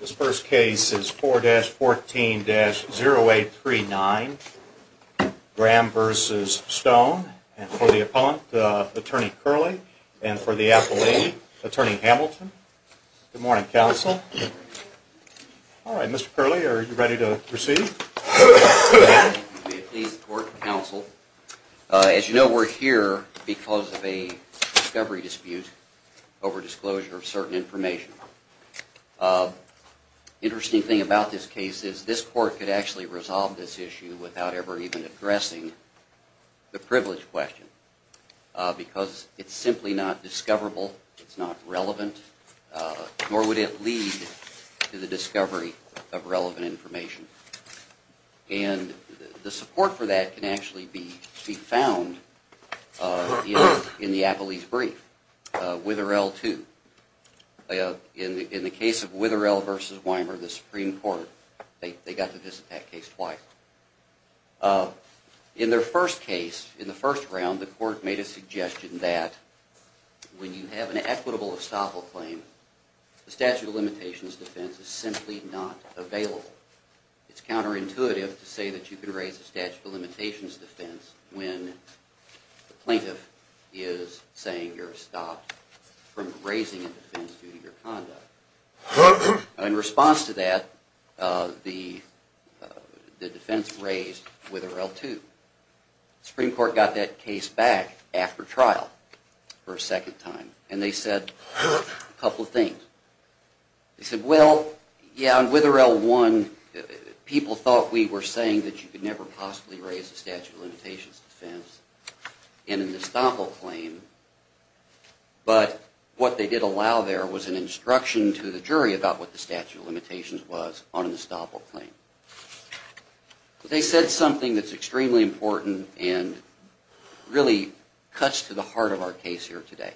This first case is 4-14-0839, Graham v. Stone, and for the appellant, Attorney Curley, and for the appellee, Attorney Hamilton. Good morning, counsel. All right, Mr. Curley, are you ready to proceed? Thank you. May it please the court and counsel, as you know, we're here because of a discovery dispute over disclosure of certain information. Interesting thing about this case is this court could actually resolve this issue without ever even addressing the privilege question, because it's simply not discoverable, it's not relevant, nor would it lead to the discovery of relevant information. And the support for that can actually be found in the appellee's brief, Witherell 2. In the case of Witherell v. Weimer, the Supreme Court, they got to this attack case twice. In their first case, in the first round, the court made a suggestion that when you have an equitable estoppel claim, the statute of limitations defense is simply not available. It's counterintuitive to say that you can raise the statute of limitations defense when the plaintiff is saying you're stopped from raising a defense due to your conduct. In response to that, the defense raised Witherell 2. The Supreme Court got that case back after trial for a second time, and they said a couple of things. They said, well, yeah, in Witherell 1, people thought we were saying that you could never possibly raise the statute of limitations defense in an estoppel claim, but what they did allow there was an instruction to the jury about what the statute of limitations was on an estoppel claim. They said something that's extremely important and really cuts to the heart of our case here today.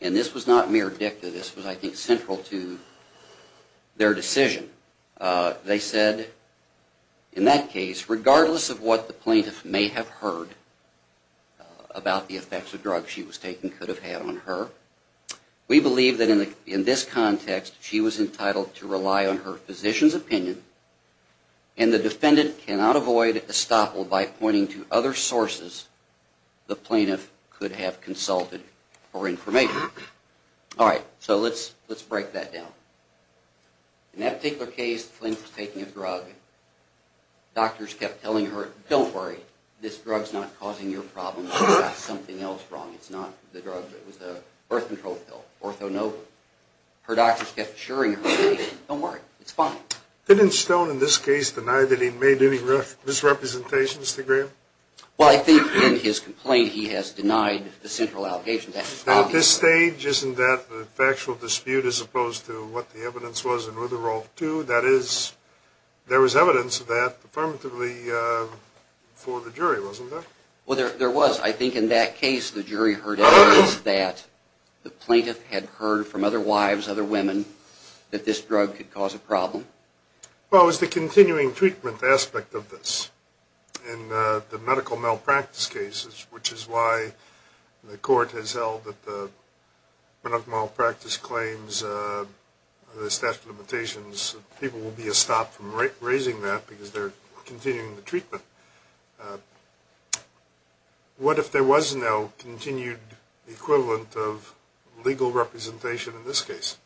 And this was not mere dicta. This was, I think, central to their decision. They said, in that case, regardless of what the plaintiff may have heard about the effects of drugs she was taking could have had on her, we believe that in this context she was entitled to rely on her physician's opinion, and the defendant cannot avoid estoppel by pointing to other sources the plaintiff could have consulted for information. All right, so let's break that down. In that particular case, the plaintiff was taking a drug. Doctors kept telling her, don't worry, this drug's not causing your problem. You've got something else wrong. It's not the drug that was the birth control pill, orthonobin. Her doctors kept assuring her, don't worry, it's fine. Didn't Stone, in this case, deny that he made any misrepresentations to Graham? Well, I think in his complaint he has denied the central allegations. At this stage, isn't that a factual dispute as opposed to what the evidence was in Witherall 2? That is, there was evidence of that affirmatively for the jury, wasn't there? Well, there was. I think in that case the jury heard evidence that the plaintiff had heard from other wives, other women, that this drug could cause a problem. What was the continuing treatment aspect of this in the medical malpractice cases, which is why the court has held that the medical malpractice claims, the statute of limitations, people will be stopped from raising that because they're continuing the treatment. What if there was no continued equivalent of legal representation in this case?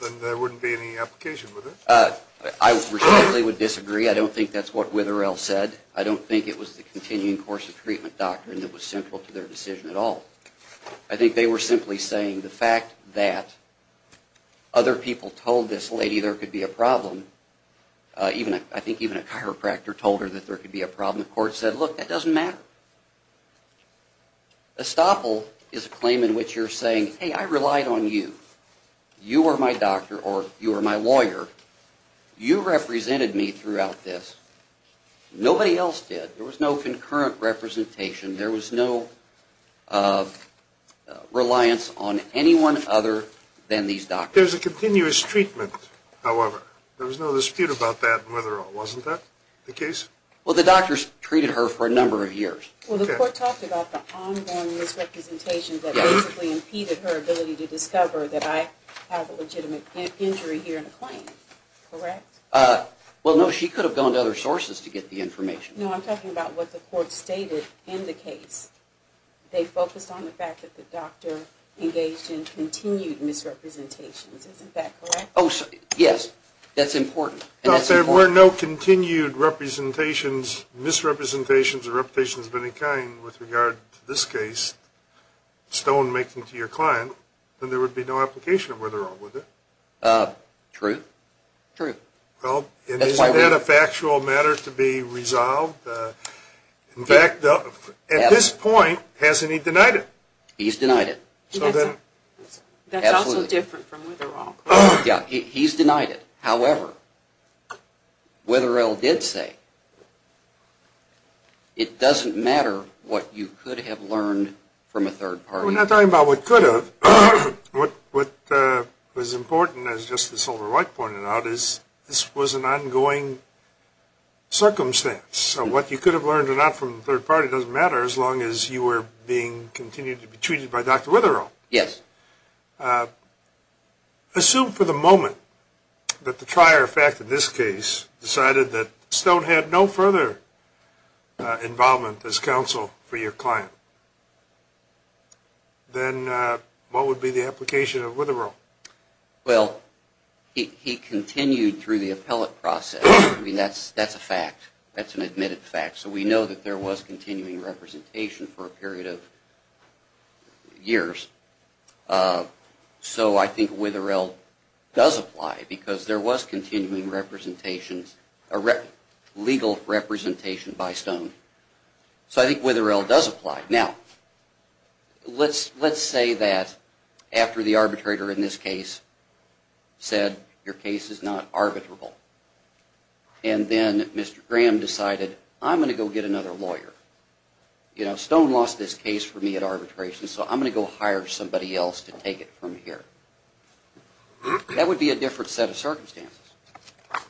Then there wouldn't be any application with it? I respectfully would disagree. I don't think that's what Witherall said. I don't think it was the continuing course of treatment doctrine that was central to their decision at all. I think they were simply saying the fact that other people told this lady there could be a problem, I think even a chiropractor told her that there could be a problem, the court said, look, that doesn't matter. Estoppel is a claim in which you're saying, hey, I relied on you. You were my doctor or you were my lawyer. You represented me throughout this. Nobody else did. There was no concurrent representation. There was no reliance on anyone other than these doctors. There was a continuous treatment, however. There was no dispute about that in Witherall. Wasn't that the case? Well, the doctors treated her for a number of years. Well, the court talked about the ongoing misrepresentations that basically impeded her ability to discover that I have a legitimate injury here in the claim. Correct? Well, no, she could have gone to other sources to get the information. No, I'm talking about what the court stated in the case. They focused on the fact that the doctor engaged in continued misrepresentations. Isn't that correct? Yes, that's important. If there were no continued representations, misrepresentations or representations of any kind with regard to this case, stone making to your client, then there would be no application of Witherall, would there? True. True. Well, isn't that a factual matter to be resolved? In fact, at this point, hasn't he denied it? He's denied it. That's also different from Witherall. Yeah, he's denied it. However, Witherall did say, it doesn't matter what you could have learned from a third party. We're not talking about what could have. What was important, as Justice Silverwhite pointed out, is this was an ongoing circumstance. So what you could have learned or not from the third party doesn't matter as long as you were being continued to be treated by Dr. Witherall. Yes. Assume for the moment that the trier of fact in this case decided that stone had no further involvement as counsel for your client, then what would be the application of Witherall? Well, he continued through the appellate process. I mean, that's a fact. That's an admitted fact. So we know that there was continuing representation for a period of years. So I think Witherall does apply because there was continuing representations, legal representation by stone. So I think Witherall does apply. Now, let's say that after the arbitrator in this case said, your case is not arbitrable, and then Mr. Graham decided, I'm going to go get another lawyer. You know, stone lost this case for me at arbitration, so I'm going to go hire somebody else to take it from here. That would be a different set of circumstances.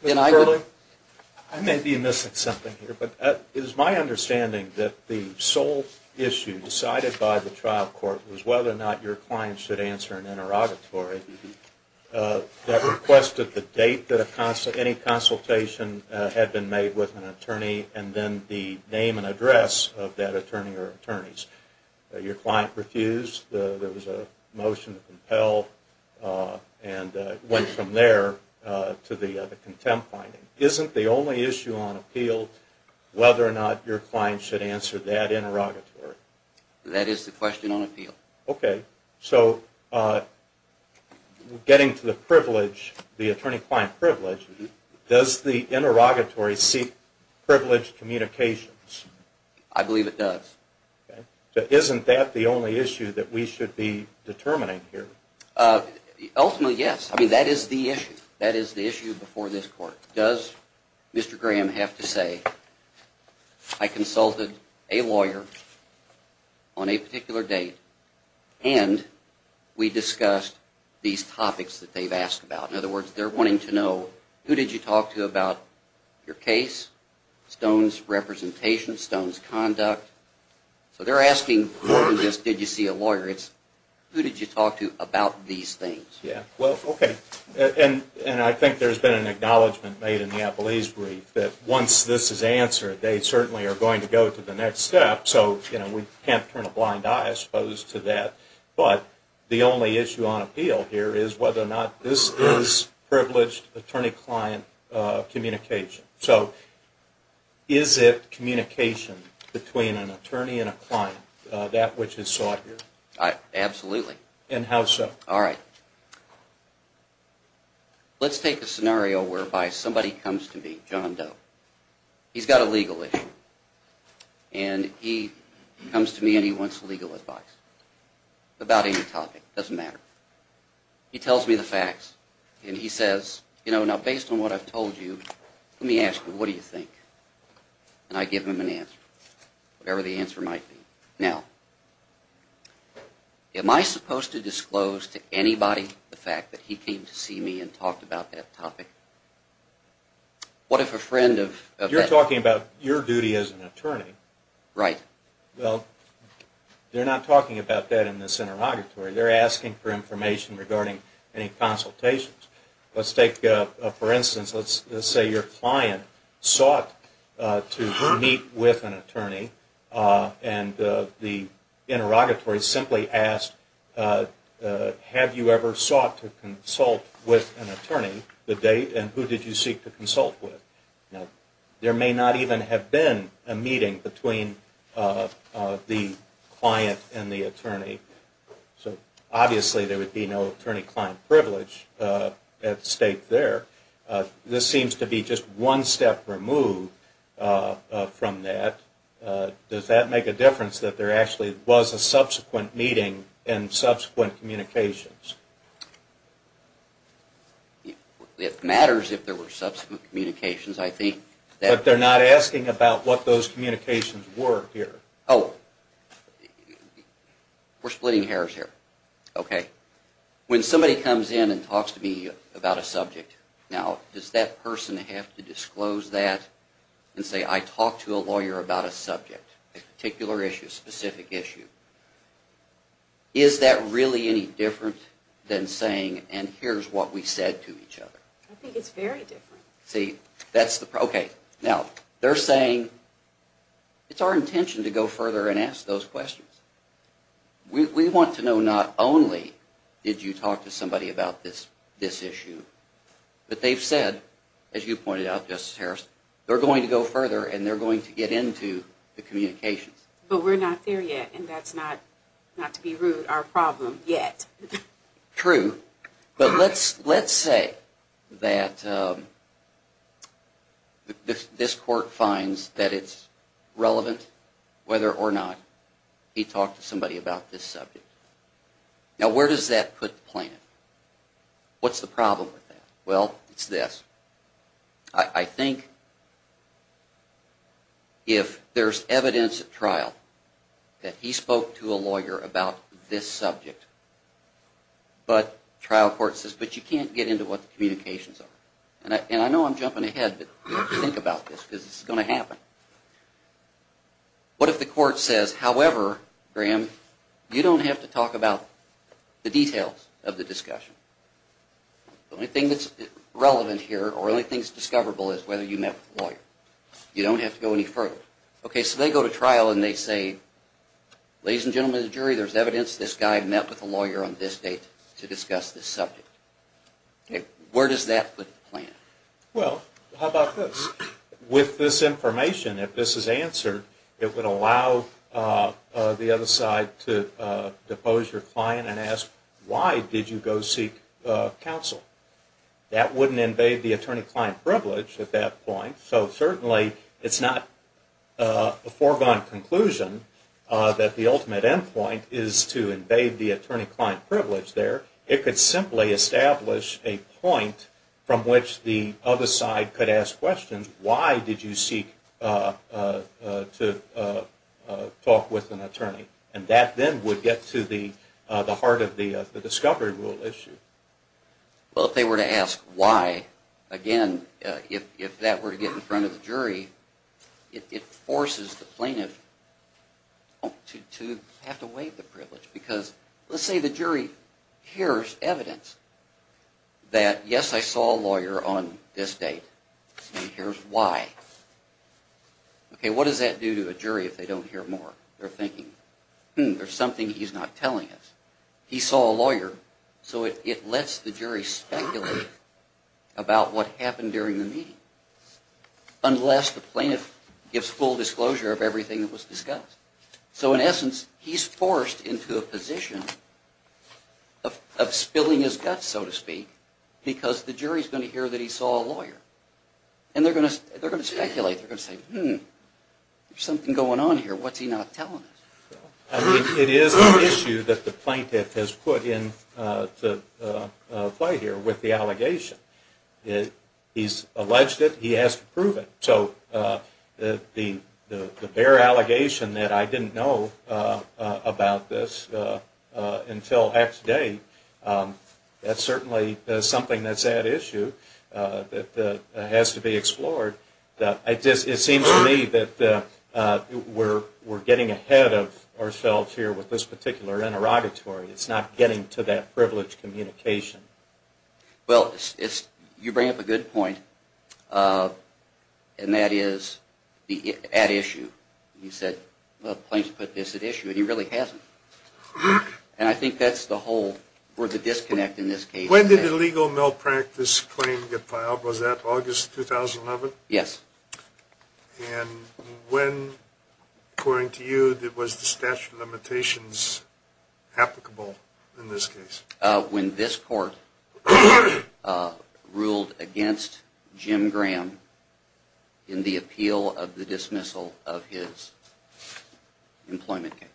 Mr. Curley, I may be missing something here, but it is my understanding that the sole issue decided by the trial court was whether or not your client should answer an interrogatory that requested the date that any consultation had been made with an attorney and then the name and address of that attorney or attorneys. Your client refused. There was a motion to compel and it went from there to the contempt finding. Isn't the only issue on appeal whether or not your client should answer that interrogatory? That is the question on appeal. Okay. So getting to the privilege, the attorney-client privilege, does the interrogatory seek privileged communications? I believe it does. Okay. So isn't that the only issue that we should be determining here? Ultimately, yes. I mean, that is the issue. That is the issue before this court. Does Mr. Graham have to say, I consulted a lawyer on a particular date and we discussed these topics that they've asked about? In other words, they're wanting to know who did you talk to about your case, Stone's representation, Stone's conduct. So they're asking more than just did you see a lawyer, it's who did you talk to about these things? Yeah. Well, okay. And I think there's been an acknowledgment made in the Applease brief that once this is answered, they certainly are going to go to the next step. So we can't turn a blind eye, I suppose, to that. But the only issue on appeal here is whether or not this is privileged attorney-client communication. So is it communication between an attorney and a client, that which is sought here? Absolutely. And how so? All right. Let's take a scenario whereby somebody comes to me, John Doe. He's got a legal issue. And he comes to me and he wants legal advice about any topic. Doesn't matter. He tells me the facts and he says, you know, now based on what I've told you, let me ask you, what do you think? And I give him an answer, whatever the answer might be. Now, am I supposed to disclose to anybody the fact that he came to see me and talked about that topic? What if a friend of... You're talking about your duty as an attorney. Right. Well, they're not talking about that in this interrogatory. They're asking for information regarding any consultations. Let's take, for instance, let's say your client sought to meet with an attorney. And the interrogatory simply asked, have you ever sought to consult with an attorney? The date and who did you seek to consult with? Now, there may not even have been a meeting between the client and the attorney. So obviously there would be no attorney-client privilege at stake there. This seems to be just one step removed from that. Does that make a difference that there actually was a subsequent meeting and subsequent communications? It matters if there were subsequent communications, I think. But they're not asking about what those communications were here. Oh, we're splitting hairs here. Okay. When somebody comes in and talks to me about a subject, now, does that person have to disclose that and say, I talked to a lawyer about a subject, a particular issue, a specific issue? Is that really any different than saying, and here's what we said to each other? I think it's very different. Okay. Now, they're saying it's our intention to go further and ask those questions. We want to know not only did you talk to somebody about this issue, but they've said, as you pointed out, Justice Harris, they're going to go further and they're going to get into the communications. But we're not there yet, and that's not, not to be rude, our problem yet. True. But let's say that this court finds that it's relevant whether or not he talked to somebody about this subject. Now, where does that put the plaintiff? What's the problem with that? Well, it's this. I think if there's evidence at trial that he spoke to a lawyer about this subject, but trial court says, but you can't get into what the communications are. And I know I'm jumping ahead, but you have to think about this because it's going to happen. What if the court says, however, Graham, you don't have to talk about the details of the discussion. The only thing that's relevant here or the only thing that's discoverable is whether you met with a lawyer. You don't have to go any further. Okay, so they go to trial and they say, ladies and gentlemen of the jury, there's evidence this guy met with a lawyer on this date to discuss this subject. Where does that put the plaintiff? Well, how about this? With this information, if this is answered, it would allow the other side to depose your client and ask, why did you go seek counsel? That wouldn't invade the attorney-client privilege at that point. So certainly it's not a foregone conclusion that the ultimate end point is to invade the attorney-client privilege there. It could simply establish a point from which the other side could ask questions. And that then would get to the heart of the discovery rule issue. Well, if they were to ask why, again, if that were to get in front of the jury, it forces the plaintiff to have to waive the privilege. Because let's say the jury hears evidence that, yes, I saw a lawyer on this date. Here's why. Okay, what does that do to a jury if they don't hear more? They're thinking, hmm, there's something he's not telling us. He saw a lawyer, so it lets the jury speculate about what happened during the meeting, unless the plaintiff gives full disclosure of everything that was discussed. So in essence, he's forced into a position of spilling his guts, so to speak, because the jury's going to hear that he saw a lawyer. And they're going to speculate. They're going to say, hmm, there's something going on here. What's he not telling us? It is an issue that the plaintiff has put into play here with the allegation. He's alleged it. He has to prove it. So the bare allegation that I didn't know about this until X day, that's certainly something that's at issue. It has to be explored. It seems to me that we're getting ahead of ourselves here with this particular interrogatory. It's not getting to that privileged communication. Well, you bring up a good point, and that is at issue. You said, well, the plaintiff put this at issue, and he really hasn't. And I think that's the whole, or the disconnect in this case. When did the legal malpractice claim get filed? Was that August 2011? Yes. And when, according to you, was the statute of limitations applicable in this case? When this court ruled against Jim Graham in the appeal of the dismissal of his employment case.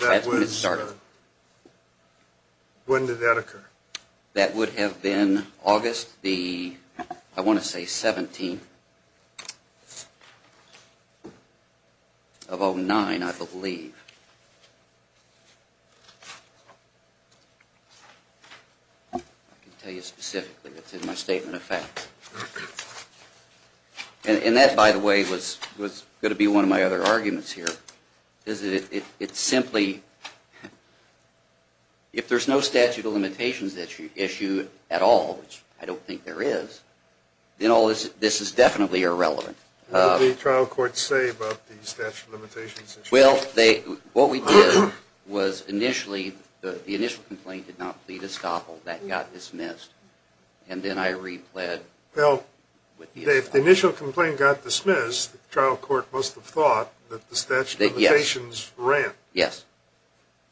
That's when it started. When did that occur? That would have been August the, I want to say, 17th of 09, I believe. I can tell you specifically. It's in my statement of facts. And that, by the way, was going to be one of my other arguments here. It's simply, if there's no statute of limitations issue at all, which I don't think there is, then this is definitely irrelevant. What did the trial court say about the statute of limitations issue? Well, what we did was initially, the initial complaint did not plead estoppel. That got dismissed. And then I repled. Well, if the initial complaint got dismissed, the trial court must have thought that the statute of limitations ran. Yes.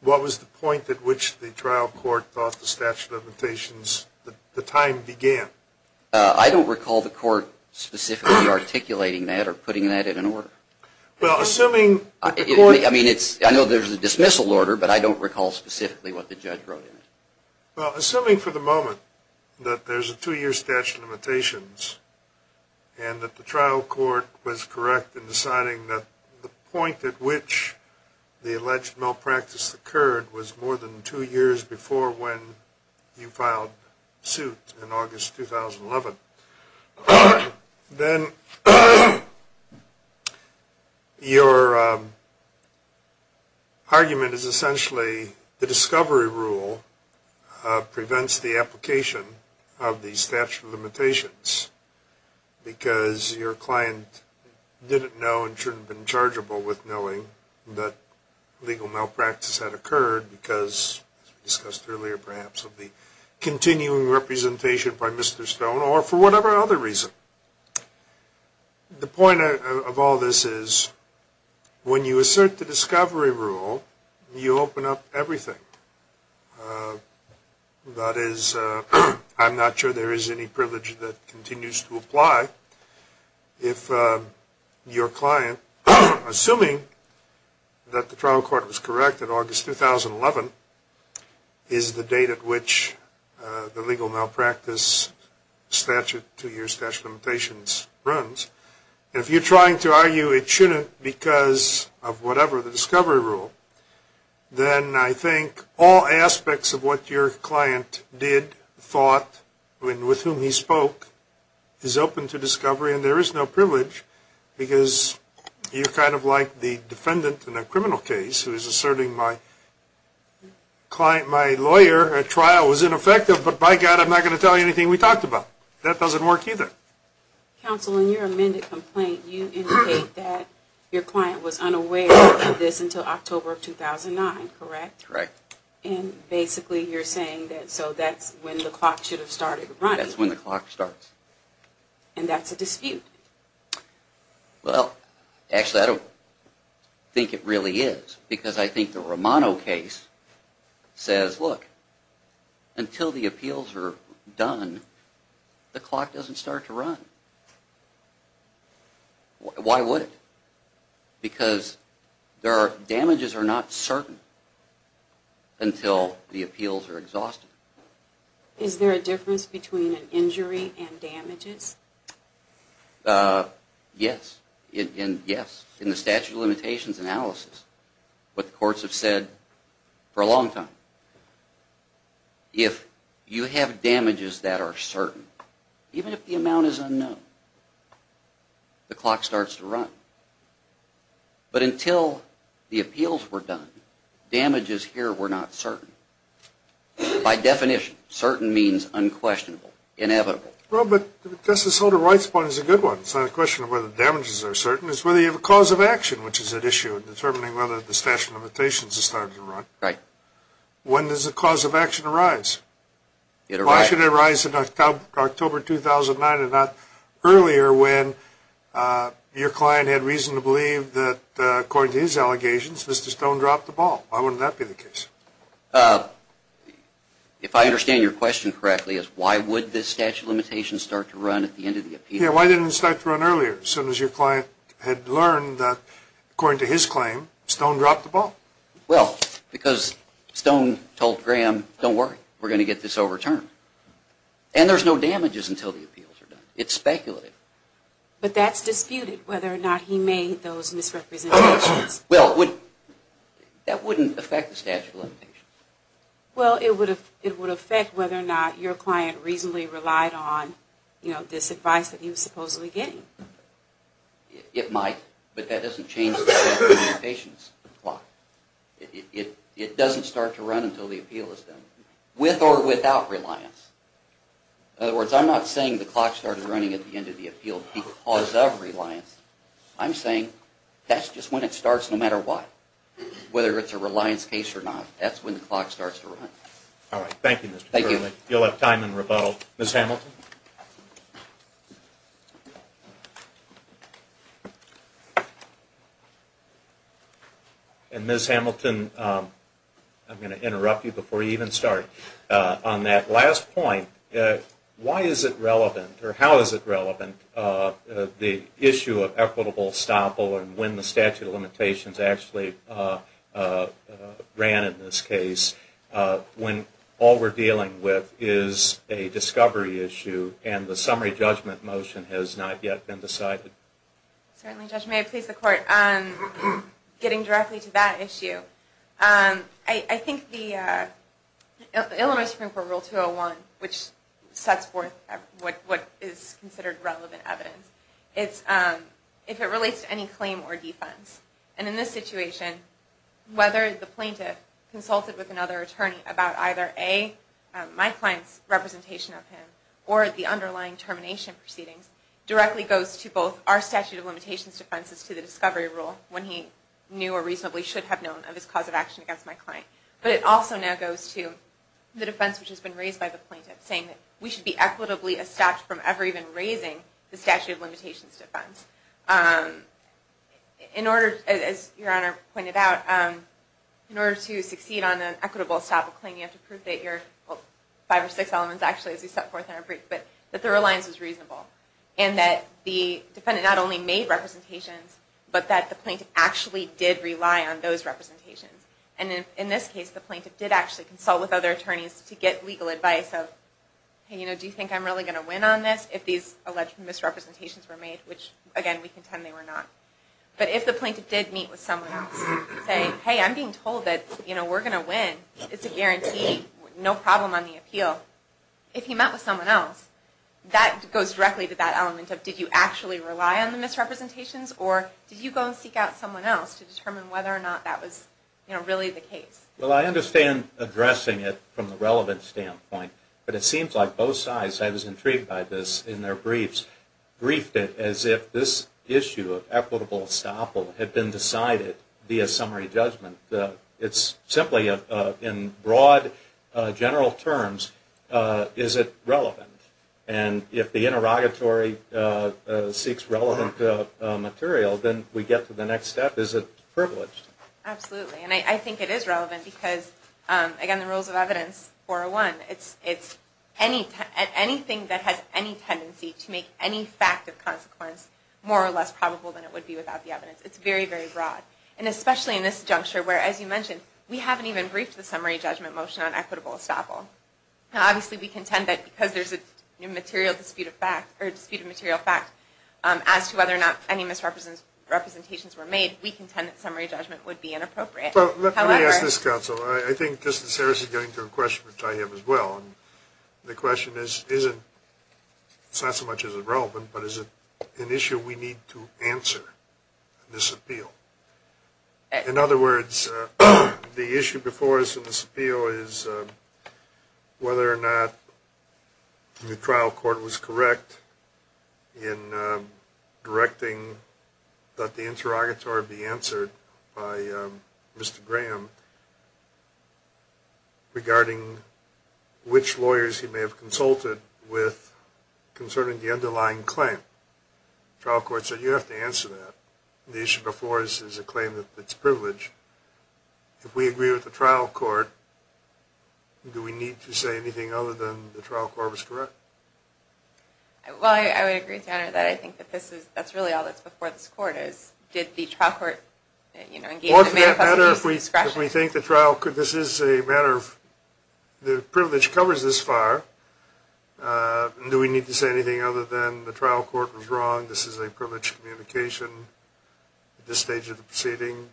What was the point at which the trial court thought the statute of limitations, the time began? I don't recall the court specifically articulating that or putting that in an order. Well, assuming the court. I mean, I know there's a dismissal order, but I don't recall specifically what the judge wrote in it. Well, assuming for the moment that there's a two-year statute of limitations and that the trial court was correct in deciding that the point at which the alleged malpractice occurred was more than two years before when you filed suit in August 2011, then your argument is essentially the discovery rule prevents the application of the statute of limitations because your client didn't know and shouldn't have been chargeable with knowing that legal malpractice had occurred because, as we discussed earlier perhaps, of the continuing representation by Mr. Stone or for whatever other reason. The point of all this is when you assert the discovery rule, you open up everything. That is, I'm not sure there is any privilege that continues to apply if your client, assuming that the trial court was correct in August 2011, is the date at which the legal malpractice statute, two-year statute of limitations, runs. If you're trying to argue it shouldn't because of whatever the discovery rule, then I think all aspects of what your client did, thought, and with whom he spoke is open to discovery and there is no privilege because you're kind of like the defendant in a criminal case who is asserting my client, my lawyer, a trial was ineffective, but by God I'm not going to tell you anything we talked about. That doesn't work either. Counsel, in your amended complaint you indicate that your client was unaware of this until October of 2009, correct? Correct. And basically you're saying that so that's when the clock should have started running. That's when the clock starts. And that's a dispute. Well, actually I don't think it really is because I think the Romano case says, look, until the appeals are done the clock doesn't start to run. Why would it? Because damages are not certain until the appeals are exhausted. Is there a difference between an injury and damages? Yes. In the statute of limitations analysis, what the courts have said for a long time, if you have damages that are certain, even if the amount is unknown, the clock starts to run. But until the appeals were done, damages here were not certain. By definition, certain means unquestionable, inevitable. Well, but Justice Holder Wright's point is a good one. It's not a question of whether damages are certain, it's whether you have a cause of action, which is at issue in determining whether the statute of limitations has started to run. Right. When does the cause of action arise? It arises. Why should it arise in October 2009 and not earlier when your client had reason to believe that, according to his allegations, Mr. Stone dropped the ball? Why wouldn't that be the case? If I understand your question correctly, it's why would this statute of limitations start to run at the end of the appeal? Yeah, why didn't it start to run earlier as soon as your client had learned that, according to his claim, Stone dropped the ball? Well, because Stone told Graham, don't worry, we're going to get this overturned. And there's no damages until the appeals are done. It's speculative. But that's disputed, whether or not he made those misrepresentations. Well, that wouldn't affect the statute of limitations. Well, it would affect whether or not your client reasonably relied on this advice that he was supposedly getting. It might, but that doesn't change the statute of limitations clock. It doesn't start to run until the appeal is done, with or without reliance. In other words, I'm not saying the clock started running at the end of the appeal because of reliance. I'm saying that's just when it starts, no matter what, whether it's a reliance case or not. That's when the clock starts to run. All right. Thank you, Mr. Turley. Thank you. You'll have time in rebuttal. Ms. Hamilton? And Ms. Hamilton, I'm going to interrupt you before you even start. On that last point, why is it relevant, or how is it relevant, the issue of equitable estoppel and when the statute of limitations actually ran in this case, when all we're dealing with is a discovery issue and the summary judgment motion has not yet been decided? Certainly, Judge. May I please the Court on getting directly to that issue? I think the Illinois Supreme Court Rule 201, which sets forth what is considered relevant evidence, it's if it relates to any claim or defense. And in this situation, whether the plaintiff consulted with another attorney about either, A, my client's representation of him, or the underlying termination proceedings, directly goes to both our statute of limitations defenses to the discovery rule, when he knew or reasonably should have known of his cause of action against my client. But it also now goes to the defense which has been raised by the plaintiff, saying that we should be equitably estopped from ever even raising the statute of limitations defense. In order, as Your Honor pointed out, in order to succeed on an equitable estoppel claim, you have to prove that you're, well, five or six elements actually, as we set forth in our brief, but that the reliance was reasonable. And that the defendant not only made representations, but that the plaintiff actually did rely on those representations. And in this case, the plaintiff did actually consult with other attorneys to get legal advice of, hey, you know, do you think I'm really going to win on this if these alleged misrepresentations were made? Which, again, we contend they were not. But if the plaintiff did meet with someone else, saying, hey, I'm being told that, you know, we're going to win, it's a guarantee, no problem on the appeal. If he met with someone else, that goes directly to that element of, did you actually rely on the misrepresentations? Or did you go and seek out someone else to determine whether or not that was, you know, really the case? Well, I understand addressing it from the relevant standpoint. But it seems like both sides, I was intrigued by this in their briefs, briefed it as if this issue of equitable estoppel had been decided via summary judgment. It's simply in broad, general terms, is it relevant? And if the interrogatory seeks relevant material, then we get to the next step, is it privileged? Absolutely. And I think it is relevant because, again, the rules of evidence, 401, it's anything that has any tendency to make any fact of consequence more or less probable than it would be without the evidence. It's very, very broad. And especially in this juncture where, as you mentioned, we haven't even briefed the summary judgment motion on equitable estoppel. Now, obviously, we contend that because there's a dispute of material fact as to whether or not any misrepresentations were made, we contend that summary judgment would be inappropriate. Let me ask this, counsel. I think Justice Harris is getting to a question which I have as well. The question is, it's not so much is it relevant, but is it an issue we need to answer in this appeal? In other words, the issue before us in this appeal is whether or not the trial court was correct in directing that the interrogatory be answered by Mr. Graham regarding which lawyers he may have consulted with concerning the underlying claim. The trial court said you have to answer that. The issue before us is a claim that's privileged. If we agree with the trial court, do we need to say anything other than the trial court was correct? Well, I would agree with you on that. I think that this is – that's really all that's before this court is did the trial court, you know, Or for that matter, if we think the trial – this is a matter of – the privilege covers this far. Do we need to say anything other than the trial court was wrong? This is a privileged communication at this stage of the proceeding?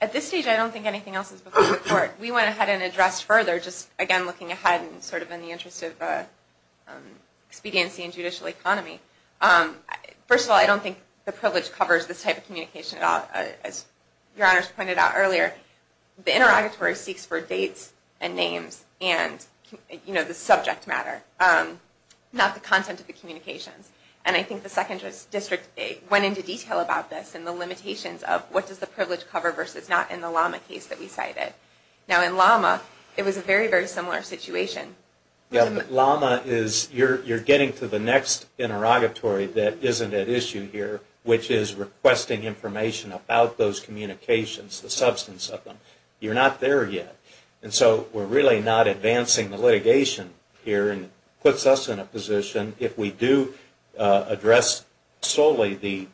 At this stage, I don't think anything else is before the court. We went ahead and addressed further, just again looking ahead and sort of in the interest of expediency in judicial economy. First of all, I don't think the privilege covers this type of communication at all. As Your Honors pointed out earlier, the interrogatory seeks for dates and names and, you know, the subject matter, not the content of the communications. And I think the Second District went into detail about this and the limitations of what does the privilege cover versus not in the LAMA case that we cited. Now, in LAMA, it was a very, very similar situation. LAMA is – you're getting to the next interrogatory that isn't at issue here, which is requesting information about those communications, the substance of them. You're not there yet. And so we're really not advancing the litigation here and puts us in a position, if we do address solely the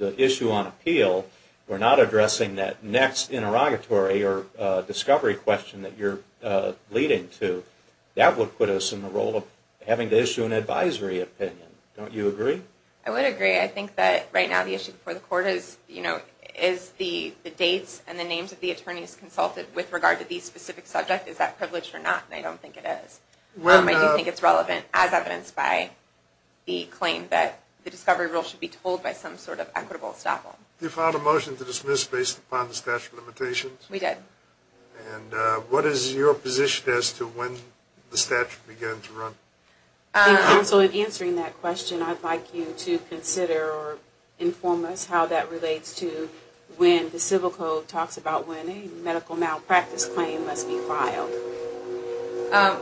issue on appeal, we're not addressing that next interrogatory or discovery question that you're leading to. That would put us in the role of having to issue an advisory opinion. Don't you agree? I would agree. I think that right now the issue before the court is, you know, is the dates and the names of the attorneys consulted with regard to these specific subjects. Is that privilege or not? And I don't think it is. I do think it's relevant as evidenced by the claim that the discovery rule should be told by some sort of equitable estoppel. You filed a motion to dismiss based upon the statute of limitations? We did. And what is your position as to when the statute began to run? In answering that question, I'd like you to consider or inform us how that relates to when the civil code talks about when a medical malpractice claim must be filed.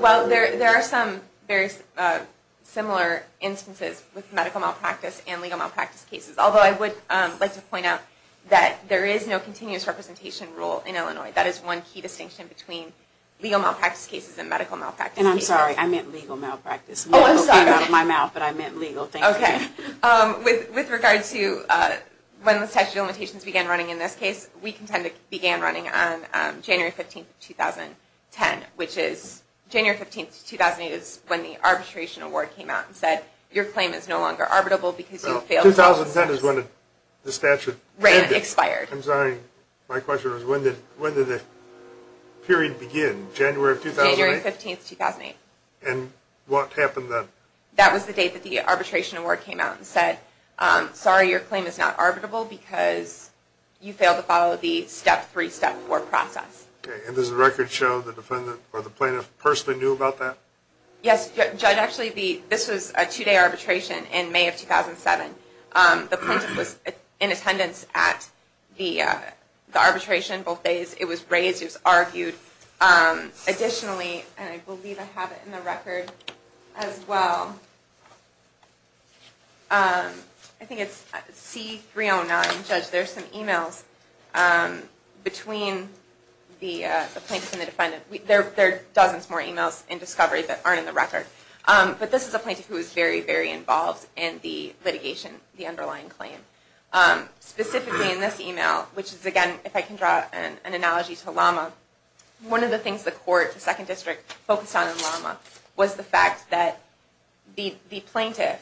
Well, there are some very similar instances with medical malpractice and legal malpractice cases. Although I would like to point out that there is no continuous representation rule in Illinois. That is one key distinction between legal malpractice cases and medical malpractice cases. And I'm sorry. I meant legal malpractice. Oh, I'm sorry. It came out of my mouth, but I meant legal. Thank you. Okay. With regard to when the statute of limitations began running in this case, we contended it began running on January 15, 2010, which is January 15, 2008 is when the arbitration award came out and said, your claim is no longer arbitrable because you failed the process. 2010 is when the statute ended. Right. It expired. I'm sorry. My question was when did the period begin? January of 2008? January 15, 2008. And what happened then? That was the date that the arbitration award came out and said, sorry, your claim is not arbitrable because you failed to follow the Step 3, Step 4 process. Okay. And does the record show the defendant or the plaintiff personally knew about that? Yes, Judge. Actually, this was a two-day arbitration in May of 2007. The plaintiff was in attendance at the arbitration both days. It was raised. It was argued. Additionally, and I believe I have it in the record as well, I think it's C-309, Judge. There's some emails between the plaintiff and the defendant. There are dozens more emails in discovery that aren't in the record. But this is a plaintiff who was very, very involved in the litigation, the underlying claim. Specifically in this email, which is, again, if I can draw an analogy to Lama, one of the things the court, the Second District, focused on in Lama was the fact that the plaintiff,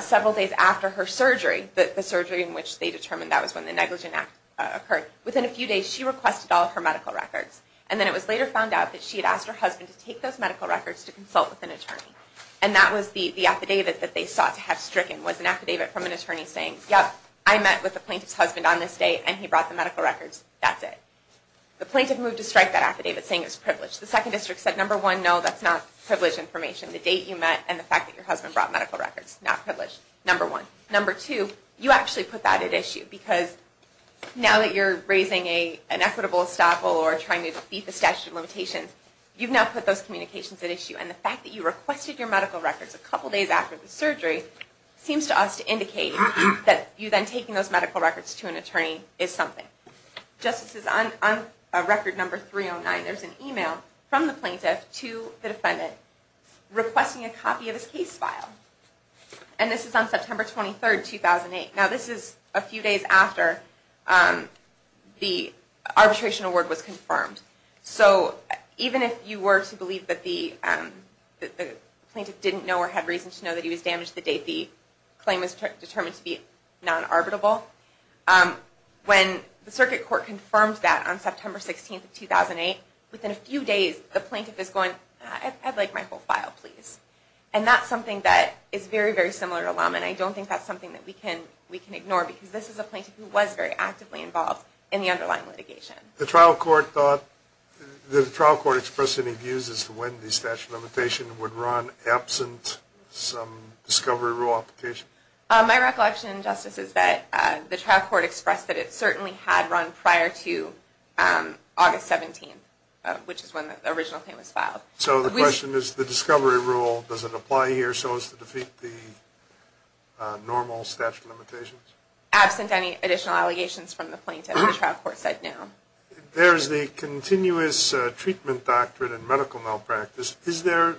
several days after her surgery, the surgery in which they determined that was when the negligent act occurred, within a few days she requested all of her medical records. And then it was later found out that she had asked her husband to take those medical records to consult with an attorney. And that was the affidavit that they sought to have stricken was an affidavit from an attorney saying, yep, I met with the plaintiff's husband on this date and he brought the medical records. That's it. The plaintiff moved to strike that affidavit saying it was privileged. The Second District said, number one, no, that's not privileged information. The date you met and the fact that your husband brought medical records, not privileged, number one. Number two, you actually put that at issue because now that you're raising an equitable estoppel or trying to beat the statute of limitations, you've now put those communications at issue. And the fact that you requested your medical records a couple days after the surgery seems to us to indicate that you then taking those medical records to an attorney is something. Justices, on record number 309, there's an email from the plaintiff to the defendant requesting a copy of his case file. And this is on September 23, 2008. Now, this is a few days after the arbitration award was confirmed. So even if you were to believe that the plaintiff didn't know or had reason to know that he was damaged the date the claim was determined to be non-arbitrable, when the circuit court confirmed that on September 16, 2008, within a few days, the plaintiff is going, I'd like my whole file, please. And that's something that is very, very similar to Lum, and I don't think that's something that we can ignore because this is a plaintiff who was very actively involved in the underlying litigation. The trial court thought that the trial court expressed any views as to when the statute of limitations would run absent some discovery rule application. My recollection, Justice, is that the trial court expressed that it certainly had run prior to August 17, which is when the original claim was filed. So the question is, the discovery rule, does it apply here so as to defeat the normal statute of limitations? Absent any additional allegations from the plaintiff, the trial court said no. There's the continuous treatment doctrine in medical malpractice. Is there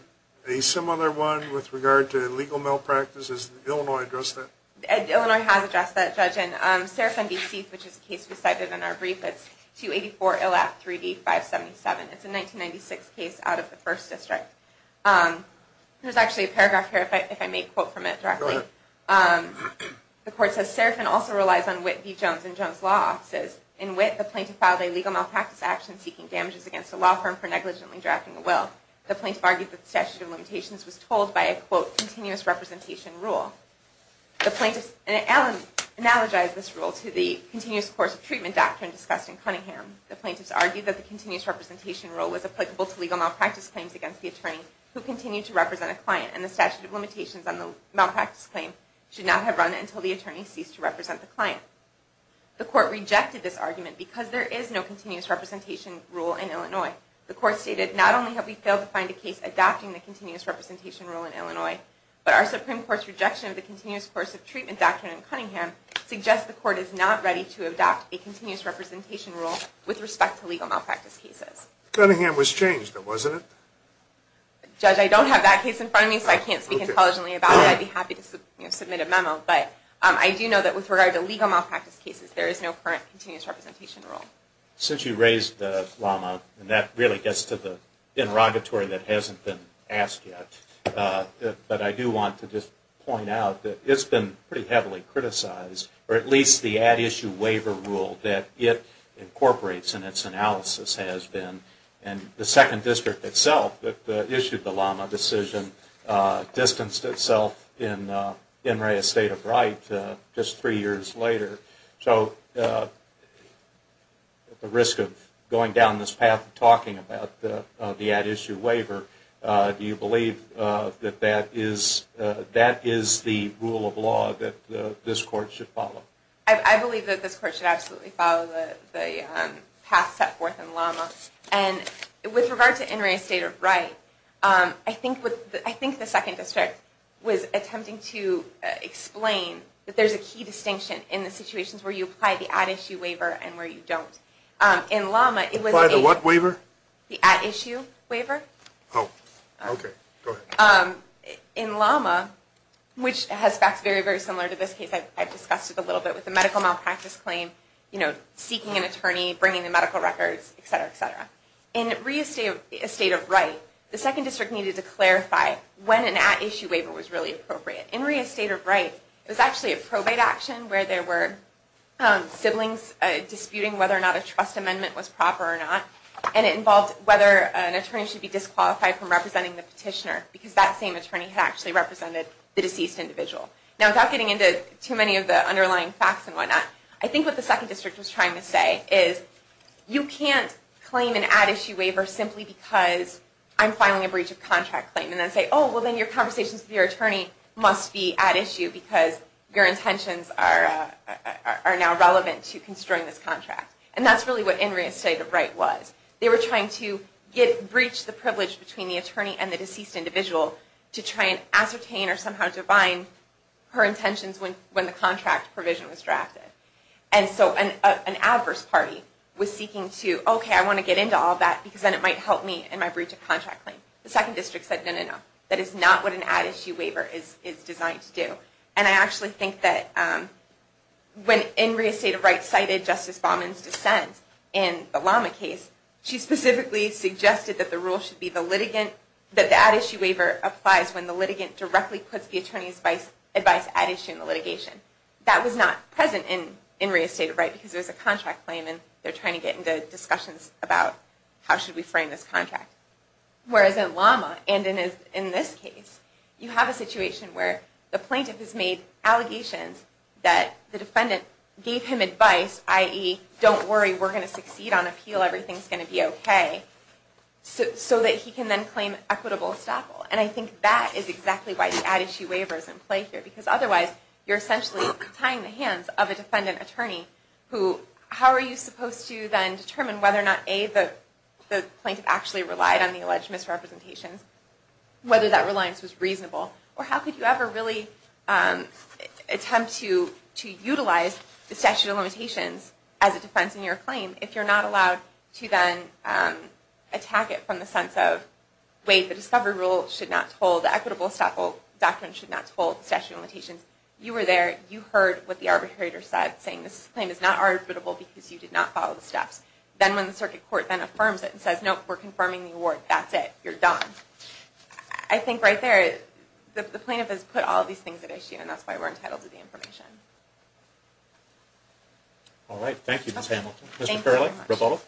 a similar one with regard to legal malpractice? Has Illinois addressed that? Illinois has addressed that, Judge. And Serafin v. Seath, which is a case we cited in our brief, it's 284-ILAF-3D-577. It's a 1996 case out of the First District. There's actually a paragraph here, if I may quote from it directly. The court says, Serafin also relies on Witt v. Jones and Jones' law offices. In Witt, the plaintiff filed a legal malpractice action seeking damages against a law firm for negligently drafting a will. The plaintiff argued that the statute of limitations was told by a, quote, continuous representation rule. And Allen analogized this rule to the continuous course of treatment doctrine discussed in Cunningham. The plaintiffs argued that the continuous representation rule was applicable to legal malpractice claims against the attorney who continued to represent a client, and the statute of limitations on the malpractice claim should not have run until the attorney ceased to represent the client. The court rejected this argument because there is no continuous representation rule in Illinois. The court stated, not only have we failed to find a case adopting the continuous representation rule in Illinois, but our Supreme Court's rejection of the continuous course of treatment doctrine in Cunningham suggests the court is not ready to adopt a continuous representation rule with respect to legal malpractice cases. Cunningham was changed, wasn't it? Judge, I don't have that case in front of me, so I can't speak intelligently about it. I'd be happy to submit a memo. But I do know that with regard to legal malpractice cases, there is no current continuous representation rule. Since you raised the llama, and that really gets to the interrogatory that hasn't been asked yet, but I do want to just point out that it's been pretty heavily criticized, or at least the ad issue waiver rule that it incorporates in its analysis has been, and the Second District itself that issued the llama decision distanced itself in Enray Estate of Wright just three years later. So at the risk of going down this path of talking about the ad issue waiver, do you believe that that is the rule of law that this court should follow? I believe that this court should absolutely follow the path set forth in llama. And with regard to Enray Estate of Wright, I think the Second District was attempting to explain that there's a key distinction in the situations where you apply the ad issue waiver and where you don't. Apply the what waiver? The ad issue waiver. Oh, okay, go ahead. In llama, which has facts very, very similar to this case I've discussed a little bit with the medical malpractice claim, you know, seeking an attorney, bringing the medical records, et cetera, et cetera. In Enray Estate of Wright, the Second District needed to clarify when an ad issue waiver was really appropriate. In Enray Estate of Wright, it was actually a probate action where there were siblings disputing whether or not a trust amendment was proper or not, and it involved whether an attorney should be disqualified from representing the petitioner because that same attorney had actually represented the deceased individual. Now, without getting into too many of the underlying facts and whatnot, I think what the Second District was trying to say is, you can't claim an ad issue waiver simply because I'm filing a breach of contract claim, and then say, oh, well, then your conversations with your attorney must be ad issue because your intentions are now relevant to construing this contract. And that's really what Enray Estate of Wright was. They were trying to breach the privilege between the attorney and the deceased individual to try and ascertain or somehow divine her intentions when the contract provision was drafted. And so an adverse party was seeking to, okay, I want to get into all that because then it might help me in my breach of contract claim. The Second District said, no, no, no. That is not what an ad issue waiver is designed to do. And I actually think that when Enray Estate of Wright cited Justice Baumann's dissent in the Lama case, she specifically suggested that the rule should be that the ad issue waiver applies when the litigant directly puts the attorney's advice ad issue in the litigation. That was not present in Enray Estate of Wright because there was a contract claim and they're trying to get into discussions about how should we frame this contract. Whereas in Lama, and in this case, you have a situation where the plaintiff has made allegations that the defendant gave him advice, i.e., don't worry, we're going to succeed on appeal, everything's going to be okay, so that he can then claim equitable estoppel. And I think that is exactly why the ad issue waiver is in play here because otherwise you're essentially tying the hands of a defendant attorney who, how are you supposed to then determine whether or not, A, the plaintiff actually relied on the alleged misrepresentations, whether that reliance was reasonable, or how could you ever really attempt to utilize the statute of limitations as a defense in your claim if you're not allowed to then attack it from the sense of, wait, the discovery rule should not hold, the equitable estoppel document should not hold, the statute of limitations. You were there, you heard what the arbitrator said, saying this claim is not arbitrable because you did not follow the steps. Then when the circuit court then affirms it and says, nope, we're confirming the award, that's it, you're done. I think right there, the plaintiff has put all these things at issue and that's why we're entitled to the information. All right, thank you, Ms. Hamilton. Thank you very much. Mr. Farrelly, rebuttal.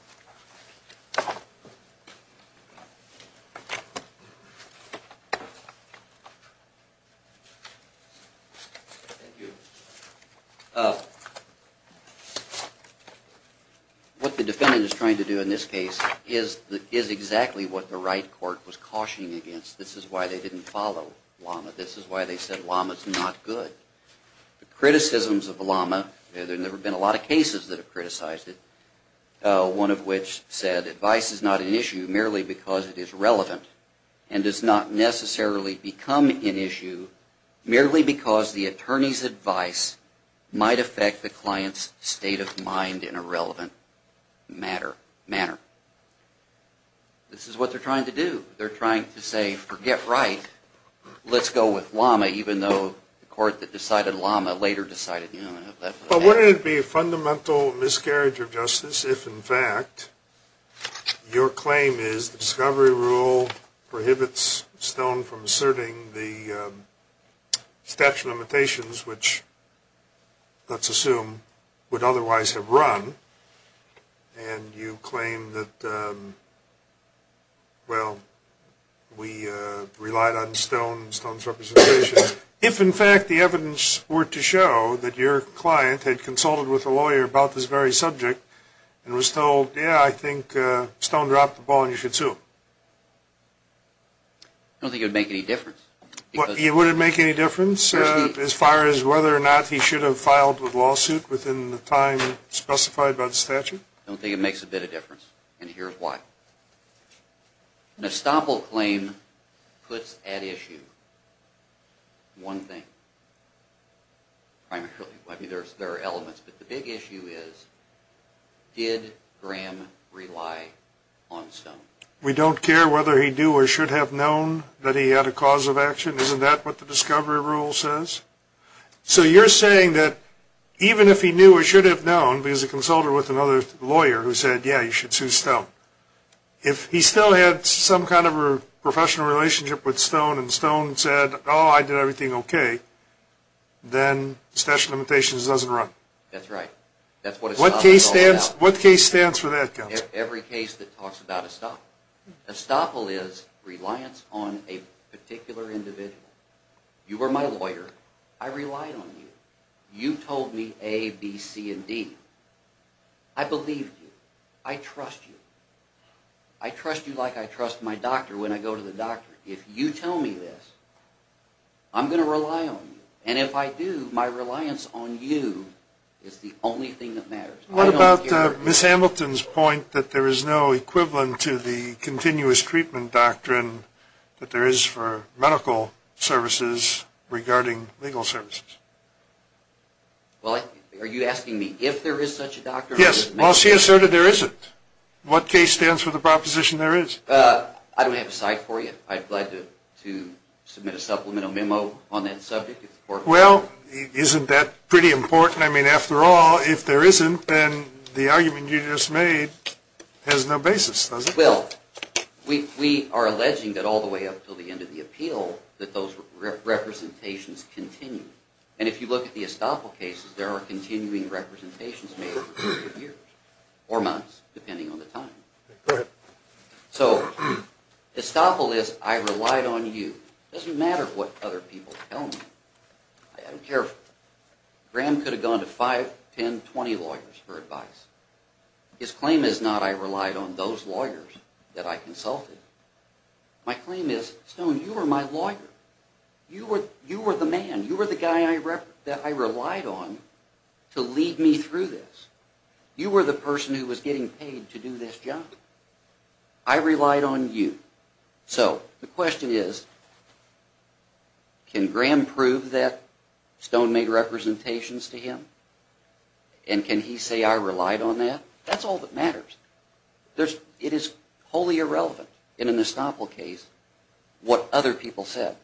Thank you. What the defendant is trying to do in this case is exactly what the right court was cautioning against. This is why they didn't follow Lama. This is why they said Lama's not good. Criticisms of Lama, there have never been a lot of cases that have criticized it. One of which said advice is not an issue merely because it is relevant and does not necessarily become an issue merely because the attorney's advice might affect the client's state of mind in a relevant manner. This is what they're trying to do. They're trying to say, forget right, let's go with Lama, even though the court that decided Lama later decided that. But wouldn't it be a fundamental miscarriage of justice if, in fact, your claim is the discovery rule prohibits Stone from asserting the statute of limitations which, let's assume, would otherwise have run, and you claim that, well, we relied on Stone's representation. If, in fact, the evidence were to show that your client had consulted with a lawyer about this very subject and was told, yeah, I think Stone dropped the ball and you should sue him? I don't think it would make any difference. It wouldn't make any difference as far as whether or not he should have filed the lawsuit within the time specified by the statute? I don't think it makes a bit of difference, and here's why. An estoppel claim puts at issue one thing primarily. I mean, there are elements, but the big issue is, did Graham rely on Stone? We don't care whether he knew or should have known that he had a cause of action? Isn't that what the discovery rule says? So you're saying that even if he knew or should have known, with another lawyer who said, yeah, you should sue Stone, if he still had some kind of a professional relationship with Stone and Stone said, oh, I did everything okay, then the statute of limitations doesn't run? That's right. What case stands for that? Every case that talks about estoppel. Estoppel is reliance on a particular individual. You were my lawyer. I relied on you. You told me A, B, C, and D. I believed you. I trust you. I trust you like I trust my doctor when I go to the doctor. If you tell me this, I'm going to rely on you, and if I do, my reliance on you is the only thing that matters. What about Ms. Hamilton's point that there is no equivalent to the continuous treatment doctrine that there is for medical services regarding legal services? Well, are you asking me if there is such a doctrine? Yes. Well, she asserted there isn't. What case stands for the proposition there is? I don't have a site for you. I'd be glad to submit a supplemental memo on that subject. Well, isn't that pretty important? I mean, after all, if there isn't, then the argument you just made has no basis, does it? Well, we are alleging that all the way up until the end of the appeal, that those representations continue, and if you look at the Estoppel cases, there are continuing representations made for years or months, depending on the time. So Estoppel is, I relied on you. It doesn't matter what other people tell me. I don't care. Graham could have gone to 5, 10, 20 lawyers for advice. His claim is not I relied on those lawyers that I consulted. My claim is, Stone, you were my lawyer. You were the man. You were the guy that I relied on to lead me through this. You were the person who was getting paid to do this job. I relied on you. So the question is, can Graham prove that Stone made representations to him? And can he say I relied on that? That's all that matters. It is wholly irrelevant in an Estoppel case what other people said.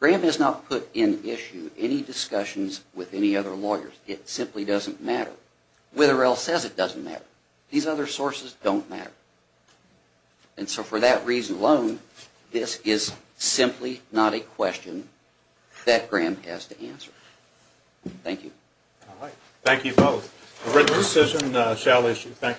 Graham has not put in issue any discussions with any other lawyers. It simply doesn't matter. Witherell says it doesn't matter. These other sources don't matter. And so for that reason alone, this is simply not a question that Graham has to answer. Thank you. Thank you both. A written decision shall issue. Thank you.